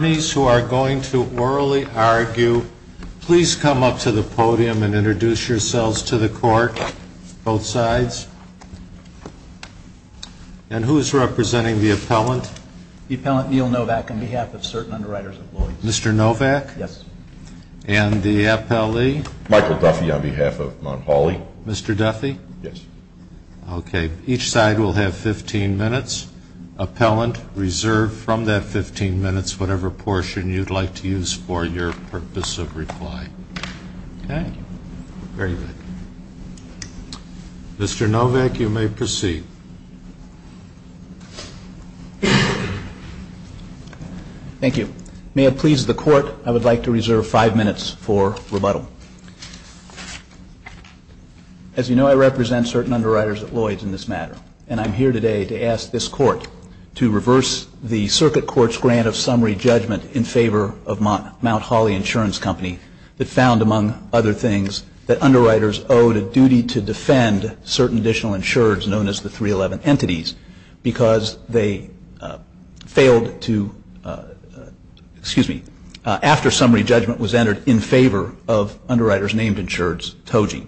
who are going to orally argue, please come up to the podium and introduce yourselves to the court, both sides. And who is representing the appellant? Appellant Neil Novak on behalf of certain underwriters and employees. Mr. Novak? Yes. And the appellee? Michael Duffy on behalf of Mount Hawley. Mr. Duffy? Yes. Okay. Each side will have 15 minutes. Appellant, reserve from that 15 minutes whatever portion you'd like to use for your purpose of reply. Okay. Very good. Mr. Novak, you may proceed. Thank you. May it please the court, I would like to reserve five minutes for rebuttal. As you know, I represent certain underwriters at Lloyd's in this matter. And I'm here today to ask this court to reverse the circuit court's grant of summary judgment in favor of Mount Hawley Insurance Company that found, among other things, that underwriters owed a duty to defend certain additional insureds known as the 311 Entities because they failed to, excuse me, after summary judgment was entered in favor of underwriters named insureds, TOGI.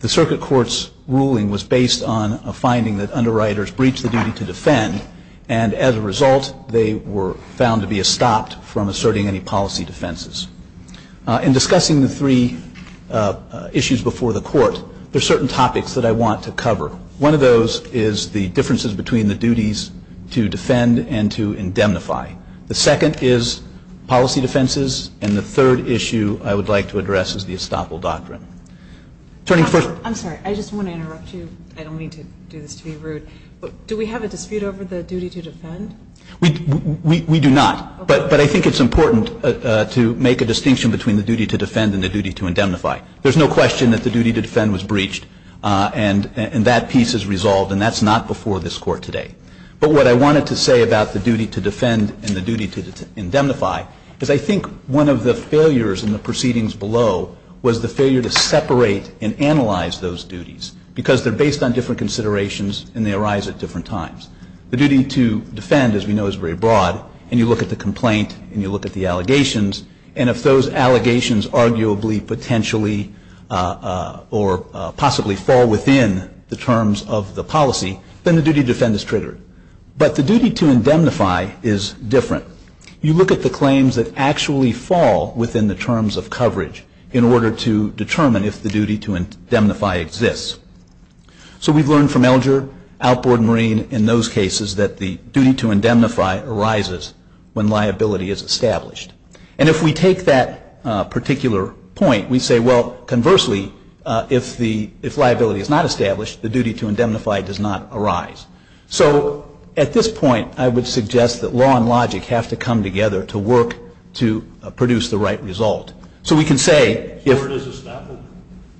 The circuit court's ruling was based on a finding that underwriters breached the duty to defend and as a result they were found to be estopped from asserting any policy defenses. In discussing the three issues before the court, there are certain topics that I want to cover. One of those is the differences between the duties to defend and to indemnify. The second is policy defenses. And the third issue I would like to address is the estoppel doctrine. I'm sorry. I just want to interrupt you. I don't mean to do this to be rude. Do we have a dispute over the duty to defend? We do not. But I think it's important to make a distinction between the duty to defend and the duty to indemnify. There's no question that the duty to defend was breached and that piece is resolved and that's not before this court today. But what I wanted to say about the duty to defend and the duty to indemnify is I think one of the failures in the proceedings below was the failure to separate and analyze those duties because they're based on different considerations and they arise at different times. The duty to defend, as we know, is very broad. And you look at the complaint and you look at the allegations. And if those allegations arguably potentially or possibly fall within the terms of the policy, then the duty to defend is triggered. But the duty to indemnify is different. You look at the claims that actually fall within the terms of coverage in order to determine if the duty to indemnify exists. So we've learned from Elger, Outboard, and Marine in those cases that the duty to indemnify arises when liability is established. And if we take that particular point, we say, well, conversely, if liability is not established, the duty to indemnify does not arise. So at this point, I would suggest that law and logic have to come together to work to produce the right result. So we can say if... Where does estoppel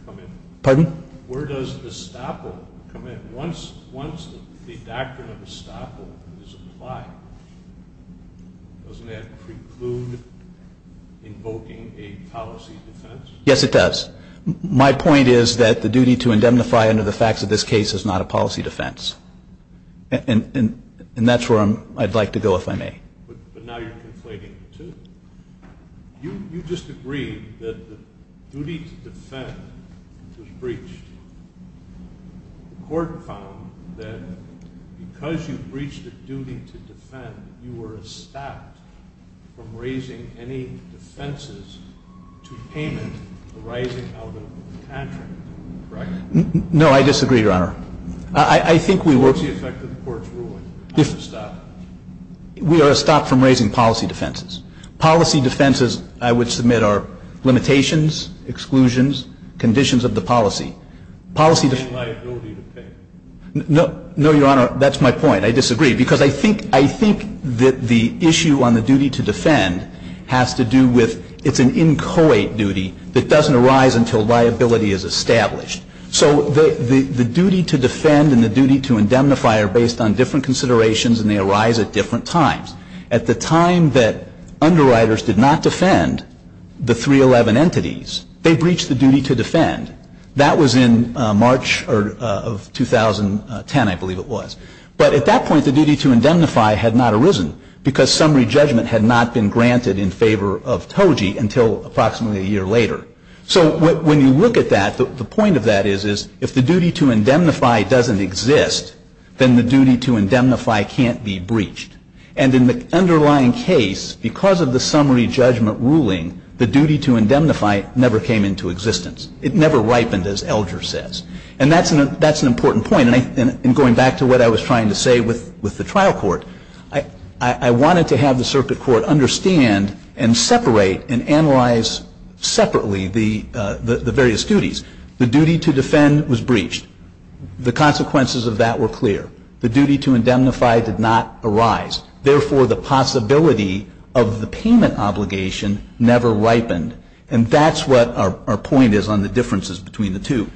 come in? Pardon? Where does estoppel come in? Once the doctrine of estoppel is applied, doesn't that preclude invoking a policy defense? Yes, it does. My point is that the duty to indemnify under the facts of this case is not a policy defense. And that's where I'd like to go, if I may. But now you're conflating the two. You just agreed that the duty to defend was breached. The court found that because you breached the duty to defend, you were estopped from raising any defenses to payment arising out of cantering. Correct? No, I disagree, Your Honor. I think we were... What's the effect of the court's ruling? How does it stop? We are estopped from raising policy defenses. Policy defenses, I would submit, are limitations, exclusions, conditions of the policy. Policy def... Paying liability to pay. No, Your Honor, that's my point. I disagree. Because I think that the issue on the duty to defend has to do with it's an inchoate duty that doesn't arise until liability is established. So the duty to defend and the duty to indemnify are based on different considerations and they arise at different times. At the time that underwriters did not defend the 311 entities, they breached the duty to defend. That was in March of 2010, I believe it was. But at that point the duty to indemnify had not arisen because summary judgment had not been granted in favor of TOGI until approximately a year later. So when you look at that, the point of that is if the duty to indemnify doesn't exist, then the duty to indemnify can't be breached. And in the underlying case, because of the summary judgment ruling, the duty to indemnify never came into existence. It never ripened, as Elger says. And that's an important point. And going back to what I was trying to say with the trial court, I wanted to have the circuit court understand and separate and analyze separately the various duties. The duty to defend was breached. The consequences of that were clear. The duty to indemnify did not arise. Therefore, the possibility of the payment obligation never ripened. And that's what our point is on the differences between the two.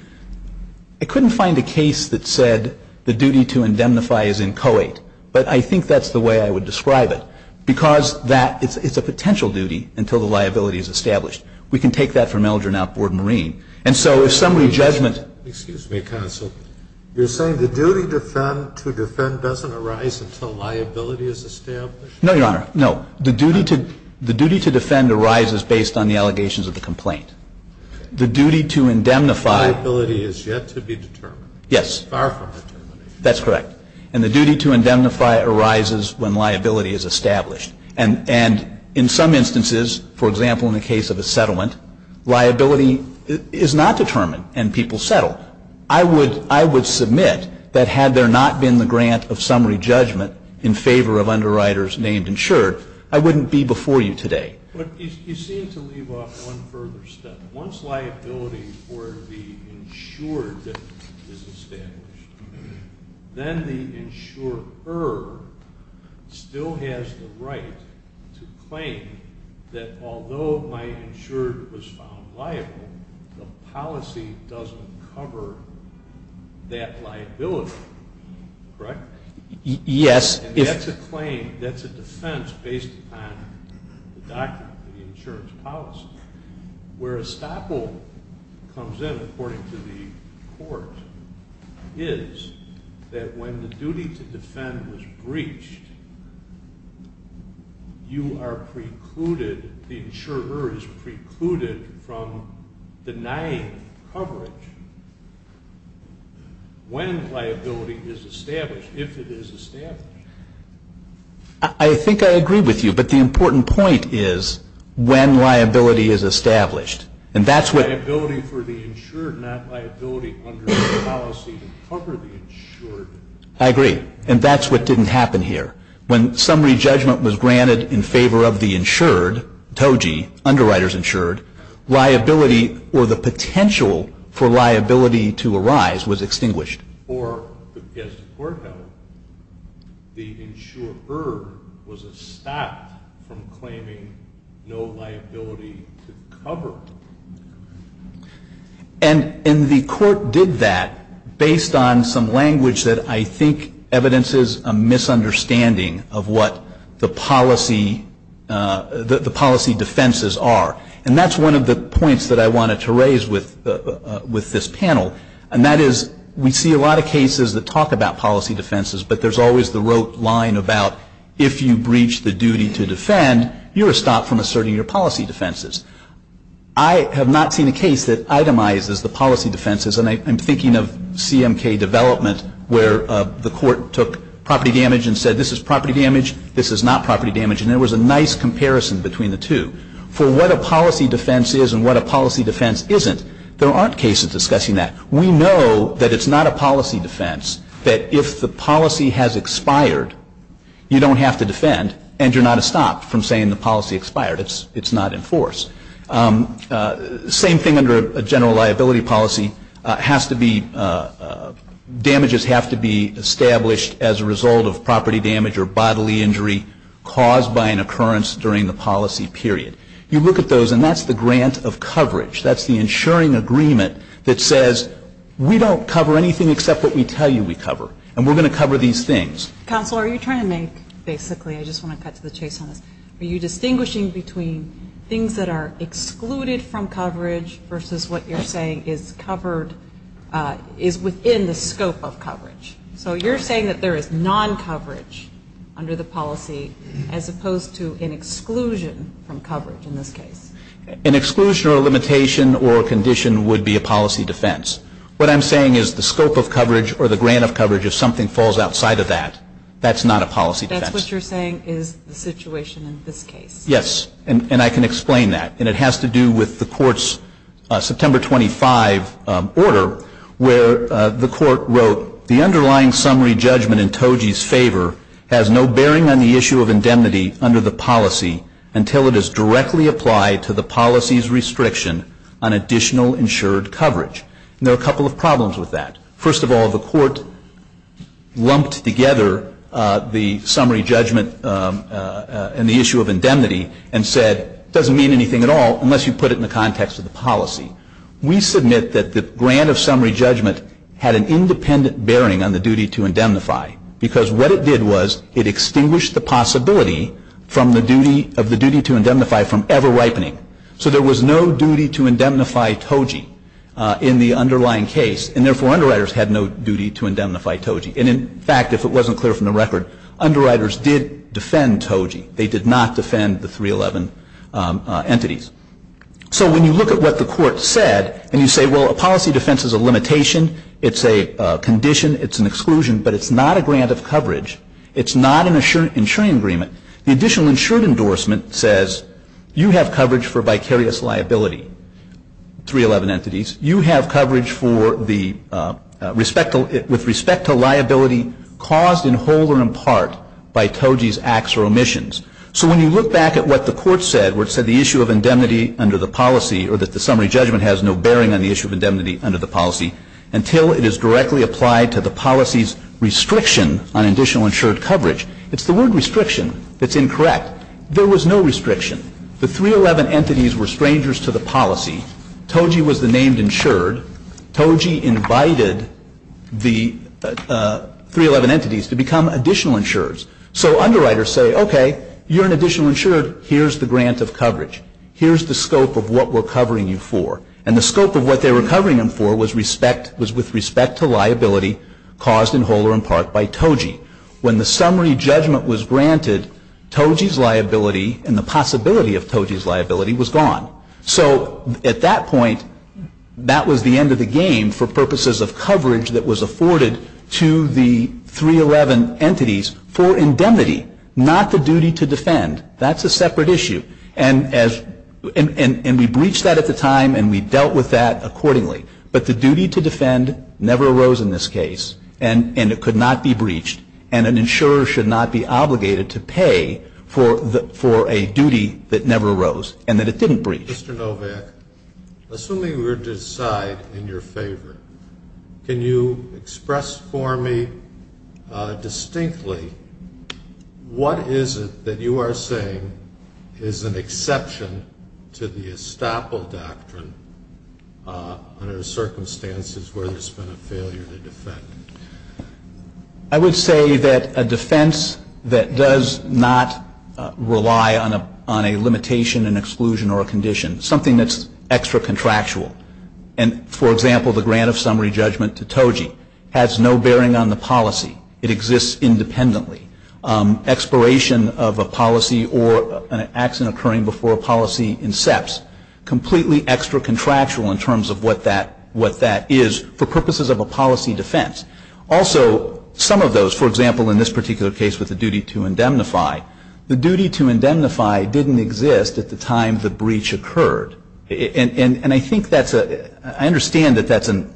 I couldn't find a case that said the duty to indemnify is in co-ed. But I think that's the way I would describe it. Because that is a potential duty until the liability is established. We can take that from Elger and outboard Marine. And so if summary judgment ---- Excuse me, counsel. You're saying the duty to defend doesn't arise until liability is established? No, Your Honor, no. The duty to defend arises based on the allegations of the complaint. The duty to indemnify ---- Liability is yet to be determined. Yes. Far from determined. That's correct. And the duty to indemnify arises when liability is established. And in some instances, for example, in the case of a settlement, liability is not determined and people settle. I would submit that had there not been the grant of summary judgment in favor of underwriters named insured, I wouldn't be before you today. But you seem to leave off one further step. Once liability for the insured is established, then the insurer still has the right to claim that although my insured was found liable, the policy doesn't cover that liability, correct? Yes. And that's a claim, that's a defense based upon the document, the insurance policy. Where estoppel comes in, according to the court, is that when the duty to defend is breached, you are precluded, the insurer is precluded from denying coverage when liability is established, if it is established. I think I agree with you. But the important point is when liability is established. Liability for the insured, not liability under the policy to cover the insured. I agree. And that's what didn't happen here. When summary judgment was granted in favor of the insured, TOGI, underwriters insured, liability or the potential for liability to arise was extinguished. Or, as the court held, the insurer was estopped from claiming no liability to cover. And the court did that based on some language that I think evidences a misunderstanding of what the policy defenses are. And that's one of the points that I wanted to raise with this panel. And that is we see a lot of cases that talk about policy defenses, but there's always the rote line about if you breach the duty to defend, you are stopped from asserting your policy defenses. I have not seen a case that itemizes the policy defenses. And I'm thinking of CMK development where the court took property damage and said this is property damage, this is not property damage. And there was a nice comparison between the two. For what a policy defense is and what a policy defense isn't, there aren't cases discussing that. We know that it's not a policy defense that if the policy has expired, you don't have to defend and you're not estopped from saying the policy expired. It's not enforced. Same thing under a general liability policy has to be damages have to be established as a result of property damage or bodily injury caused by an occurrence during the policy period. You look at those and that's the grant of coverage. That's the insuring agreement that says we don't cover anything except what we tell you we cover. And we're going to cover these things. Counsel, are you trying to make basically, I just want to cut to the chase on this, are you distinguishing between things that are excluded from coverage versus what you're saying is covered, is within the scope of coverage? So you're saying that there is non-coverage under the policy as opposed to an exclusion from coverage in this case. An exclusion or a limitation or a condition would be a policy defense. What I'm saying is the scope of coverage or the grant of coverage, if something falls outside of that, that's not a policy defense. That's what you're saying is the situation in this case. Yes. And I can explain that. And it has to do with the court's September 25 order where the court wrote, the underlying summary judgment in TOGI's favor has no bearing on the issue of indemnify to the policy's restriction on additional insured coverage. And there are a couple of problems with that. First of all, the court lumped together the summary judgment and the issue of indemnity and said it doesn't mean anything at all unless you put it in the context of the policy. We submit that the grant of summary judgment had an independent bearing on the duty to indemnify because what it did was it extinguished the possibility of the duty to indemnify from ever ripening. So there was no duty to indemnify TOGI in the underlying case. And therefore, underwriters had no duty to indemnify TOGI. And in fact, if it wasn't clear from the record, underwriters did defend TOGI. They did not defend the 311 entities. So when you look at what the court said and you say, well, a policy defense is a limitation, it's a condition, it's an exclusion, but it's not a grant of coverage, it's not an insuring agreement, the additional insured endorsement says you have coverage for vicarious liability, 311 entities. You have coverage for the respect to liability caused in whole or in part by TOGI's acts or omissions. So when you look back at what the court said where it said the issue of indemnity under the policy or that the summary judgment has no bearing on the issue of indemnity under the policy until it is directly applied to the policy's restriction on additional insured coverage, it's the word restriction that's incorrect. There was no restriction. The 311 entities were strangers to the policy. TOGI was the named insured. TOGI invited the 311 entities to become additional insureds. So underwriters say, okay, you're an additional insured. Here's the grant of coverage. Here's the scope of what we're covering you for. And the scope of what they were covering them for was respect, was with respect to liability caused in whole or in part by TOGI. When the summary judgment was granted, TOGI's liability and the possibility of TOGI's liability was gone. So at that point, that was the end of the game for purposes of coverage that was afforded to the 311 entities for indemnity, not the duty to defend. That's a separate issue. And we breached that at the time and we dealt with that accordingly. But the duty to defend never arose in this case and it could not be breached and an insurer should not be obligated to pay for a duty that never arose and that it didn't breach. Mr. Novak, assuming we were to decide in your favor, can you express for me distinctly what is it that you are saying is an exception to the estoppel doctrine under circumstances where there's been a failure to defend? I would say that a defense that does not rely on a limitation, an exclusion, or a condition, something that's extra contractual, and, for example, the grant of summary judgment to TOGI, has no bearing on the policy. It exists independently. Exploration of a policy or an accident occurring before a policy incepts, completely extra contractual in terms of what that is for purposes of a policy defense. Also, some of those, for example, in this particular case with the duty to indemnify, the duty to indemnify didn't exist at the time the breach occurred. And I think that's a – I understand that that's an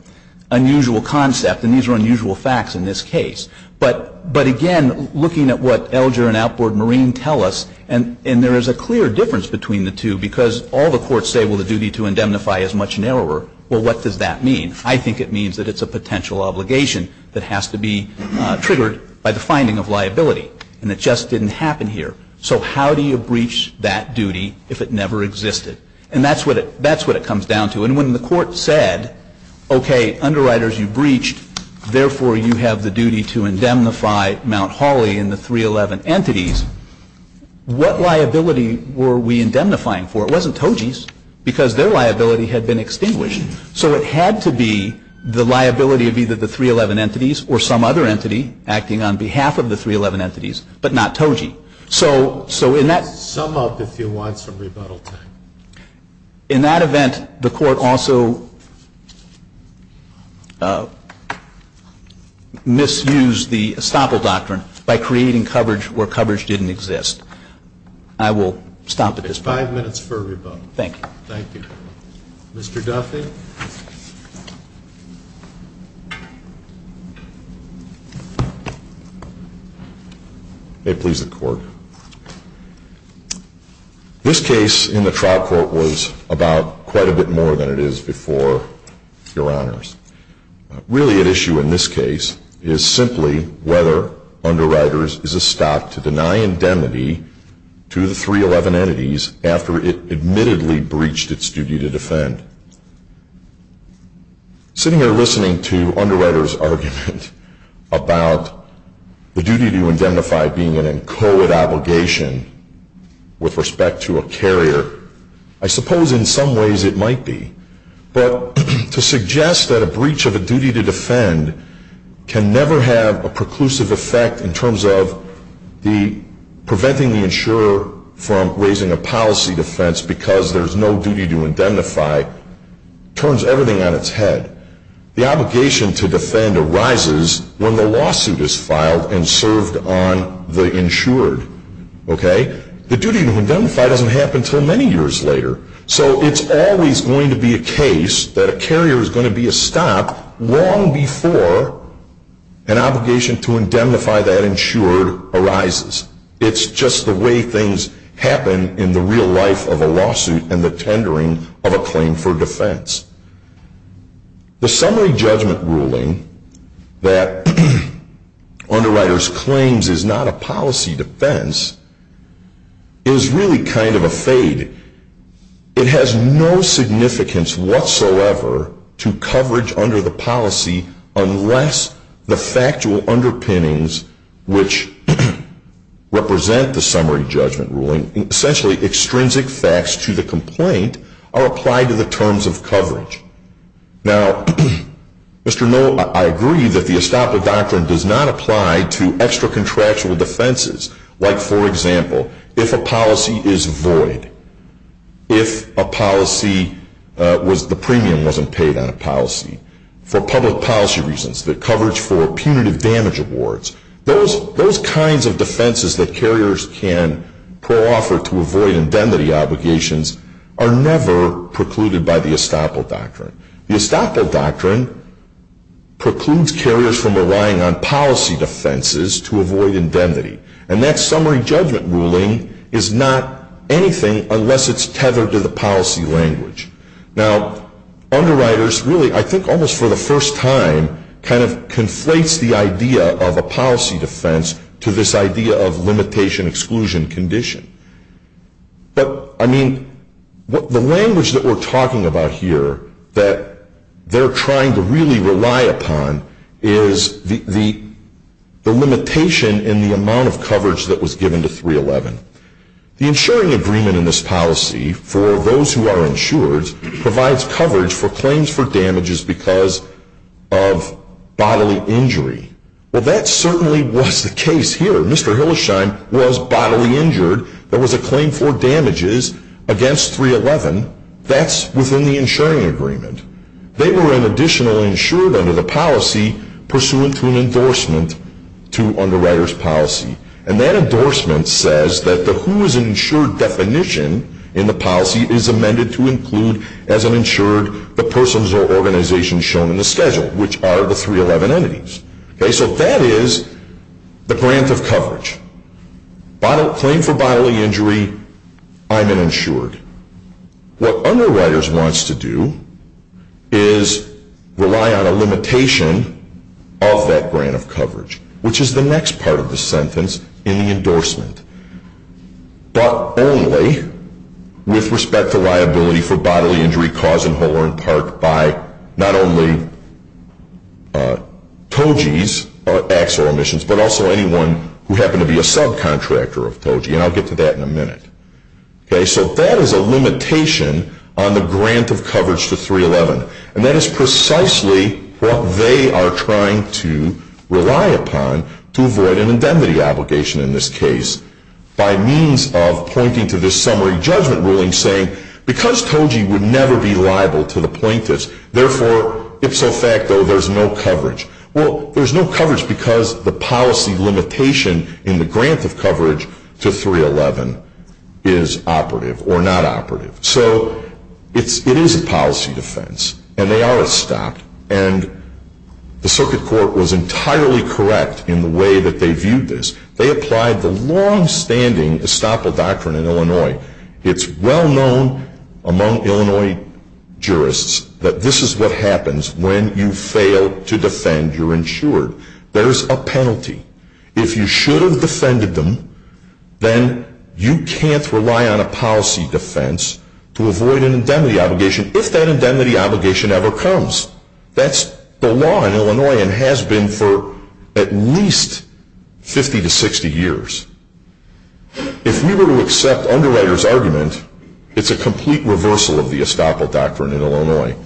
unusual concept and these are unusual facts in this case. But again, looking at what Elger and Outboard-Marine tell us, and there is a clear difference between the two because all the courts say, well, the duty to indemnify is much narrower. Well, what does that mean? I think it means that it's a potential obligation that has to be triggered by the finding of liability. And it just didn't happen here. So how do you breach that duty if it never existed? And that's what it comes down to. And when the court said, okay, underwriters, you breached, therefore, you have the duty to indemnify Mount Holly and the 311 entities, what liability were we indemnifying for? It wasn't Toji's because their liability had been extinguished. So it had to be the liability of either the 311 entities or some other entity acting on behalf of the 311 entities, but not Toji. So in that – Let's sum up, if you want, some rebuttal time. In that event, the court also misused the estoppel doctrine by creating coverage where coverage didn't exist. I will stop at this point. Five minutes for rebuttal. Thank you. Thank you. Mr. Duffy? May it please the Court. This case in the trial court was about quite a bit more than it is before Your Honors. Really at issue in this case is simply whether underwriters is a stop to deny indemnity to the 311 entities after it admittedly breached its duty to defend. Sitting here listening to underwriters' argument about the duty to indemnify being an inchoate obligation with respect to a carrier, I suppose in some ways it might be. But to suggest that a breach of a duty to defend can never have a preclusive effect in terms of preventing the insurer from raising a policy defense because there's no duty to indemnify turns everything on its head. The obligation to defend arises when the lawsuit is filed and served on the insured. The duty to indemnify doesn't happen until many years later. So it's always going to be a case that a carrier is going to be a stop long before an obligation to indemnify that insured arises. It's just the way things happen in the real life of a lawsuit and the tendering of a claim for defense. The summary judgment ruling that underwriters claims is not a policy defense is really kind of a fade. It has no significance whatsoever to coverage under the policy unless the factual underpinnings which represent the summary judgment ruling, essentially extrinsic facts to the complaint, are applied to the terms of coverage. Now, Mr. Noll, I agree that the estoppel doctrine does not apply to extra contractual defenses. Like, for example, if a policy is void. If the premium wasn't paid on a policy. For public policy reasons, the coverage for punitive damage awards. Those kinds of defenses that carriers can pro-offer to avoid indemnity obligations are never precluded by the estoppel doctrine. The estoppel doctrine precludes carriers from relying on policy defenses to avoid indemnity. And that summary judgment ruling is not anything unless it's tethered to the policy language. Now, underwriters really, I think almost for the first time, kind of conflates the idea of a policy defense to this idea of limitation exclusion condition. But, I mean, the language that we're talking about here that they're trying to really rely upon is the limitation in the amount of coverage that was given to 311. The insuring agreement in this policy for those who are insured provides coverage for claims for damages because of bodily injury. Well, that certainly was the case here. Mr. Hillesheim was bodily injured. There was a claim for damages against 311. That's within the insuring agreement. They were, in addition, insured under the policy pursuant to an endorsement to underwriter's policy. And that endorsement says that the who is an insured definition in the policy is amended to include as an insured the persons or organizations shown in the schedule, which are the 311 entities. Okay, so that is the grant of coverage. Claim for bodily injury, I'm an insured. What underwriters wants to do is rely on a limitation of that grant of coverage, which is the next part of the sentence in the endorsement, but only with respect to liability for bodily injury caused in whole or in part by not only TOGI's or Axel Emissions, but also anyone who happened to be a subcontractor of TOGI. And I'll get to that in a minute. Okay, so that is a limitation on the grant of coverage to 311. And that is precisely what they are trying to rely upon to avoid an indemnity obligation in this case by means of pointing to this summary judgment ruling saying, because TOGI would never be liable to the plaintiffs, therefore, ipso facto, there's no coverage. Well, there's no coverage because the policy limitation in the grant of coverage to 311 is operative or not operative. So it is a policy defense. And they are estopped. And the Circuit Court was entirely correct in the way that they viewed this. They applied the longstanding estoppel doctrine in Illinois. It's well known among Illinois jurists that this is what happens when you fail to defend your insured. There's a penalty. If you should have defended them, then you can't rely on a policy defense to avoid an indemnity obligation if that indemnity obligation ever comes. That's the law in Illinois and has been for at least 50 to 60 years. If we were to accept Underwriter's argument, it's a complete reversal of the estoppel doctrine in Illinois.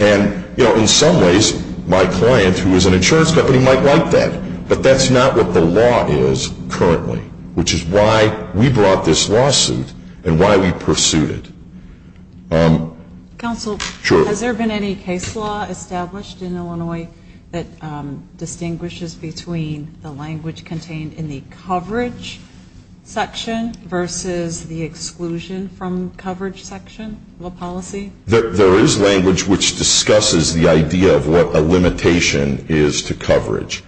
And, you know, in some ways, my client, who is an insurance company, might like that. But that's not what the law is currently, which is why we brought this lawsuit and why we pursued it. Counsel, has there been any case law established in Illinois that distinguishes between the language contained in the coverage section versus the exclusion from coverage section of a policy? There is language which discusses the idea of what a limitation is to coverage.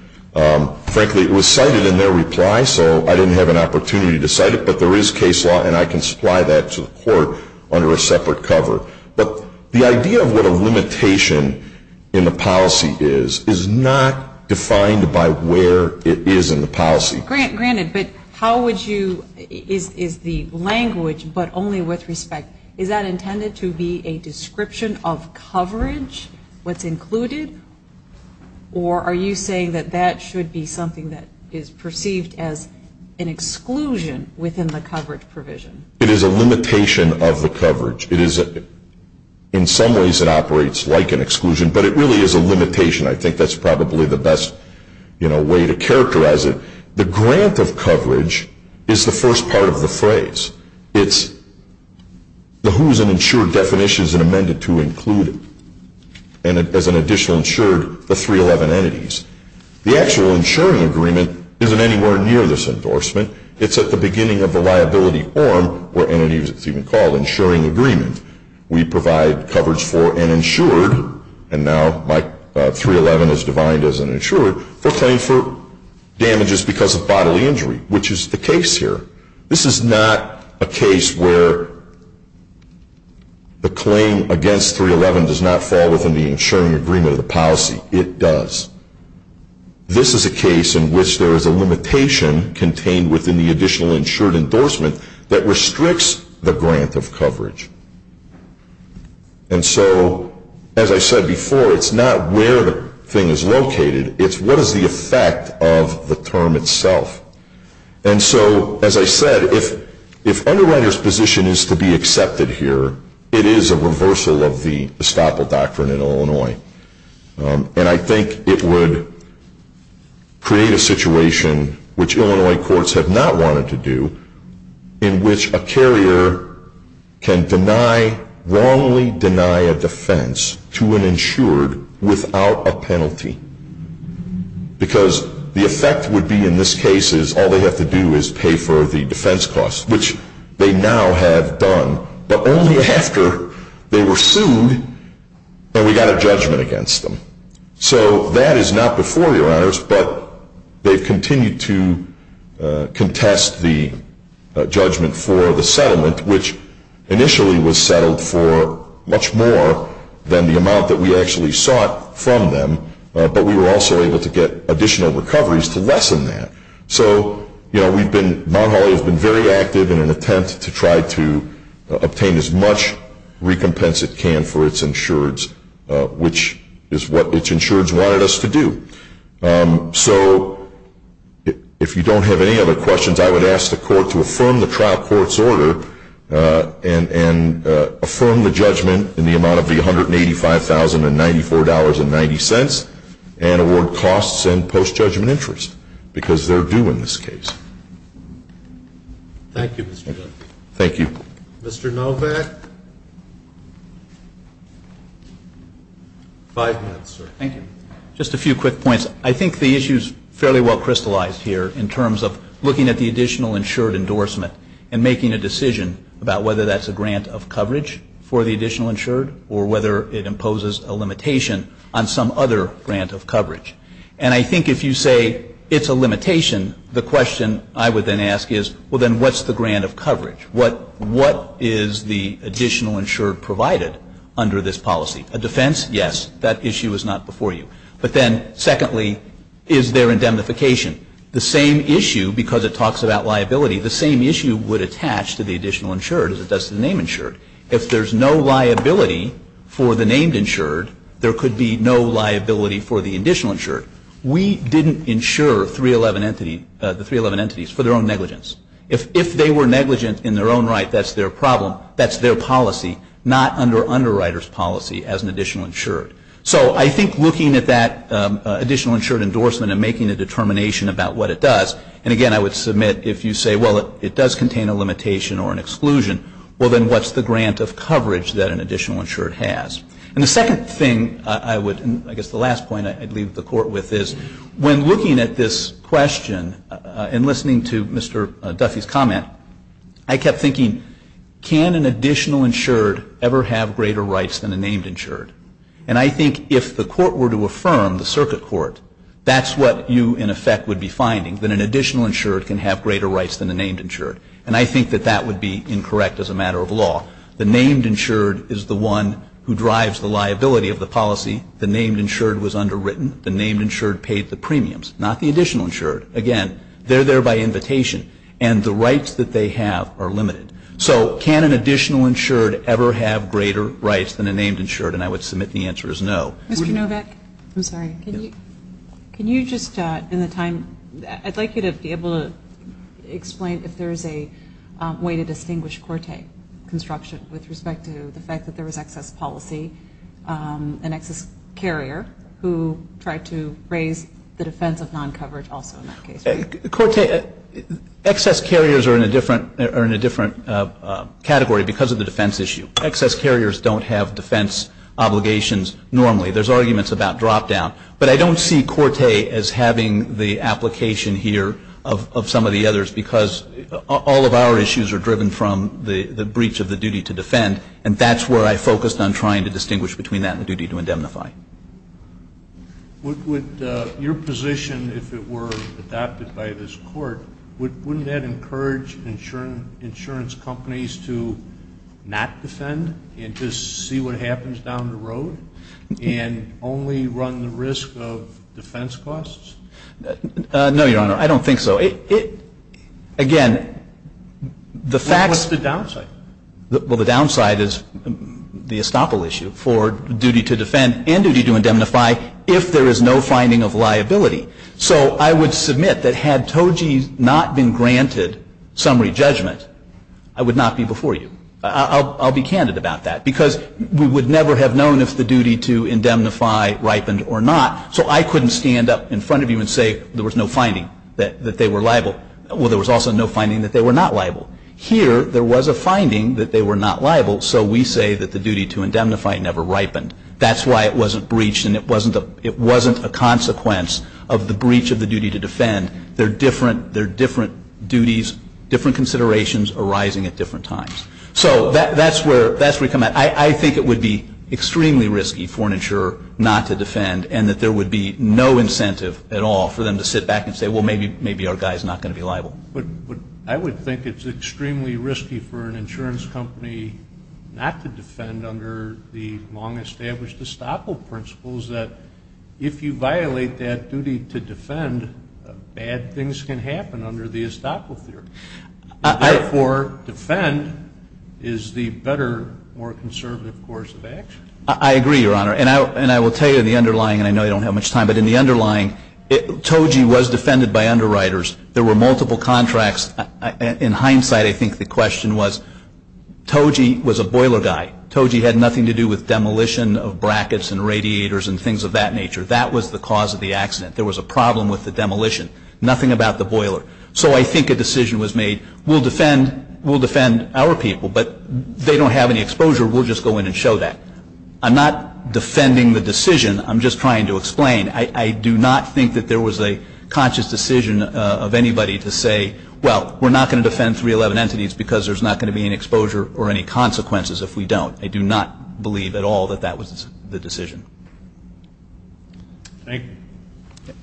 Frankly, it was cited in their reply, so I didn't have an opportunity to cite it. But there is case law, and I can supply that to the Court under a separate cover. But the idea of what a limitation in the policy is is not defined by where it is in the policy. Granted, but how would you, is the language, but only with respect, is that intended to be a description of coverage, what's included? Or are you saying that that should be something that is perceived as an exclusion within the coverage provision? It is a limitation of the coverage. It is, in some ways, it operates like an exclusion, but it really is a limitation. I think that's probably the best way to characterize it. The grant of coverage is the first part of the phrase. It's the who's an insured definition is amended to include, as an additional insured, the 311 entities. The actual insuring agreement isn't anywhere near this endorsement. It's at the beginning of the liability form, or entity, as it's even called, insuring agreement. We provide coverage for an insured, and now 311 is defined as an insured, for claim for damages because of bodily injury, which is the case here. This is not a case where the claim against 311 does not fall within the insuring agreement of the policy. It does. This is a case in which there is a limitation contained within the additional insured endorsement that restricts the grant of coverage. And so, as I said before, it's not where the thing is located. It's what is the effect of the term itself. And so, as I said, if Underwriters' position is to be accepted here, it is a reversal of the estoppel doctrine in Illinois. And I think it would create a situation, which Illinois courts have not wanted to do, in which a carrier can wrongly deny a defense to an insured without a penalty. Because the effect would be, in this case, all they have to do is pay for the defense costs, which they now have done, but only after they were sued and we got a judgment against them. So that is not before your honors, but they've continued to contest the judgment for the settlement, which initially was settled for much more than the amount that we actually sought from them, but we were also able to get additional recoveries to lessen that. So Mount Holly has been very active in an attempt to try to obtain as much recompense it can for its insureds, which is what its insureds wanted us to do. So if you don't have any other questions, I would ask the court to affirm the trial court's order and affirm the judgment in the amount of the $185,094.90 and award costs and post-judgment interest, because they're due in this case. Thank you, Mr. Dunn. Thank you. Mr. Novak? Five minutes, sir. Thank you. Just a few quick points. I think the issue is fairly well crystallized here in terms of looking at the additional insured endorsement and making a decision about whether that's a grant of coverage for the additional insured or whether it imposes a limitation on some other grant of coverage. And I think if you say it's a limitation, the question I would then ask is, well, then what's the grant of coverage? What is the additional insured provided under this policy? A defense, yes. That issue is not before you. But then, secondly, is there indemnification? The same issue, because it talks about liability, the same issue would attach to the additional insured as it does to the name insured. If there's no liability for the named insured, there could be no liability for the additional insured. We didn't insure the 311 entities for their own negligence. If they were negligent in their own right, that's their problem. That's their policy, not under underwriter's policy as an additional insured. So I think looking at that additional insured endorsement and making a determination about what it does, and, again, I would submit if you say, well, it does contain a limitation or an exclusion, well, then what's the grant of coverage that an additional insured has? And the second thing I would, I guess the last point I would leave the Court with is when looking at this question and listening to Mr. Duffy's comment, I kept thinking, can an additional insured ever have greater rights than a named insured? And I think if the Court were to affirm, the circuit court, that's what you in effect would be finding, that an additional insured can have greater rights than a named insured. And I think that that would be incorrect as a matter of law. The named insured is the one who drives the liability of the policy. The named insured was underwritten. The named insured paid the premiums, not the additional insured. Again, they're there by invitation. And the rights that they have are limited. So can an additional insured ever have greater rights than a named insured? And I would submit the answer is no. Mr. Novak? I'm sorry. Can you just in the time, I'd like you to be able to explain if there is a way to distinguish Corte construction with respect to the fact that there was excess policy, an excess carrier who tried to raise the defense of non-coverage also in that case. Corte, excess carriers are in a different category because of the defense issue. Excess carriers don't have defense obligations normally. There's arguments about drop-down. But I don't see Corte as having the application here of some of the others because all of our issues are driven from the breach of the duty to defend, and that's where I focused on trying to distinguish between that and the duty to indemnify. Would your position, if it were adopted by this Court, wouldn't that encourage insurance companies to not defend and just see what happens down the road and only run the risk of defense costs? No, Your Honor. I don't think so. Again, the facts. What's the downside? Well, the downside is the estoppel issue for duty to defend and duty to indemnify if there is no finding of liability. So I would submit that had TOGI not been granted summary judgment, I would not be before you. I'll be candid about that because we would never have known if the duty to indemnify ripened or not, so I couldn't stand up in front of you and say there was no finding that they were liable. Well, there was also no finding that they were not liable. Here, there was a finding that they were not liable, so we say that the duty to indemnify never ripened. That's why it wasn't breached and it wasn't a consequence of the breach of the duty to defend. There are different duties, different considerations arising at different times. So that's where we come at. I think it would be extremely risky for an insurer not to defend and that there would be no incentive at all for them to sit back and say, I would think it's extremely risky for an insurance company not to defend under the long-established estoppel principles that if you violate that duty to defend, bad things can happen under the estoppel theory. Therefore, defend is the better, more conservative course of action. I agree, Your Honor. And I will tell you in the underlying, and I know you don't have much time, but in the underlying, TOGI was defended by underwriters. There were multiple contracts. In hindsight, I think the question was TOGI was a boiler guy. TOGI had nothing to do with demolition of brackets and radiators and things of that nature. That was the cause of the accident. There was a problem with the demolition. Nothing about the boiler. So I think a decision was made, we'll defend our people, but they don't have any exposure. We'll just go in and show that. I'm not defending the decision. I'm just trying to explain. I do not think that there was a conscious decision of anybody to say, well, we're not going to defend 311 entities because there's not going to be any exposure or any consequences if we don't. I do not believe at all that that was the decision. Thank you.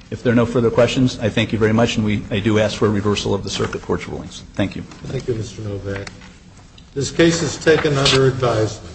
If there are no further questions, I thank you very much, and I do ask for a reversal of the circuit court's rulings. Thank you. Thank you, Mr. Novak. This case is taken under advisement.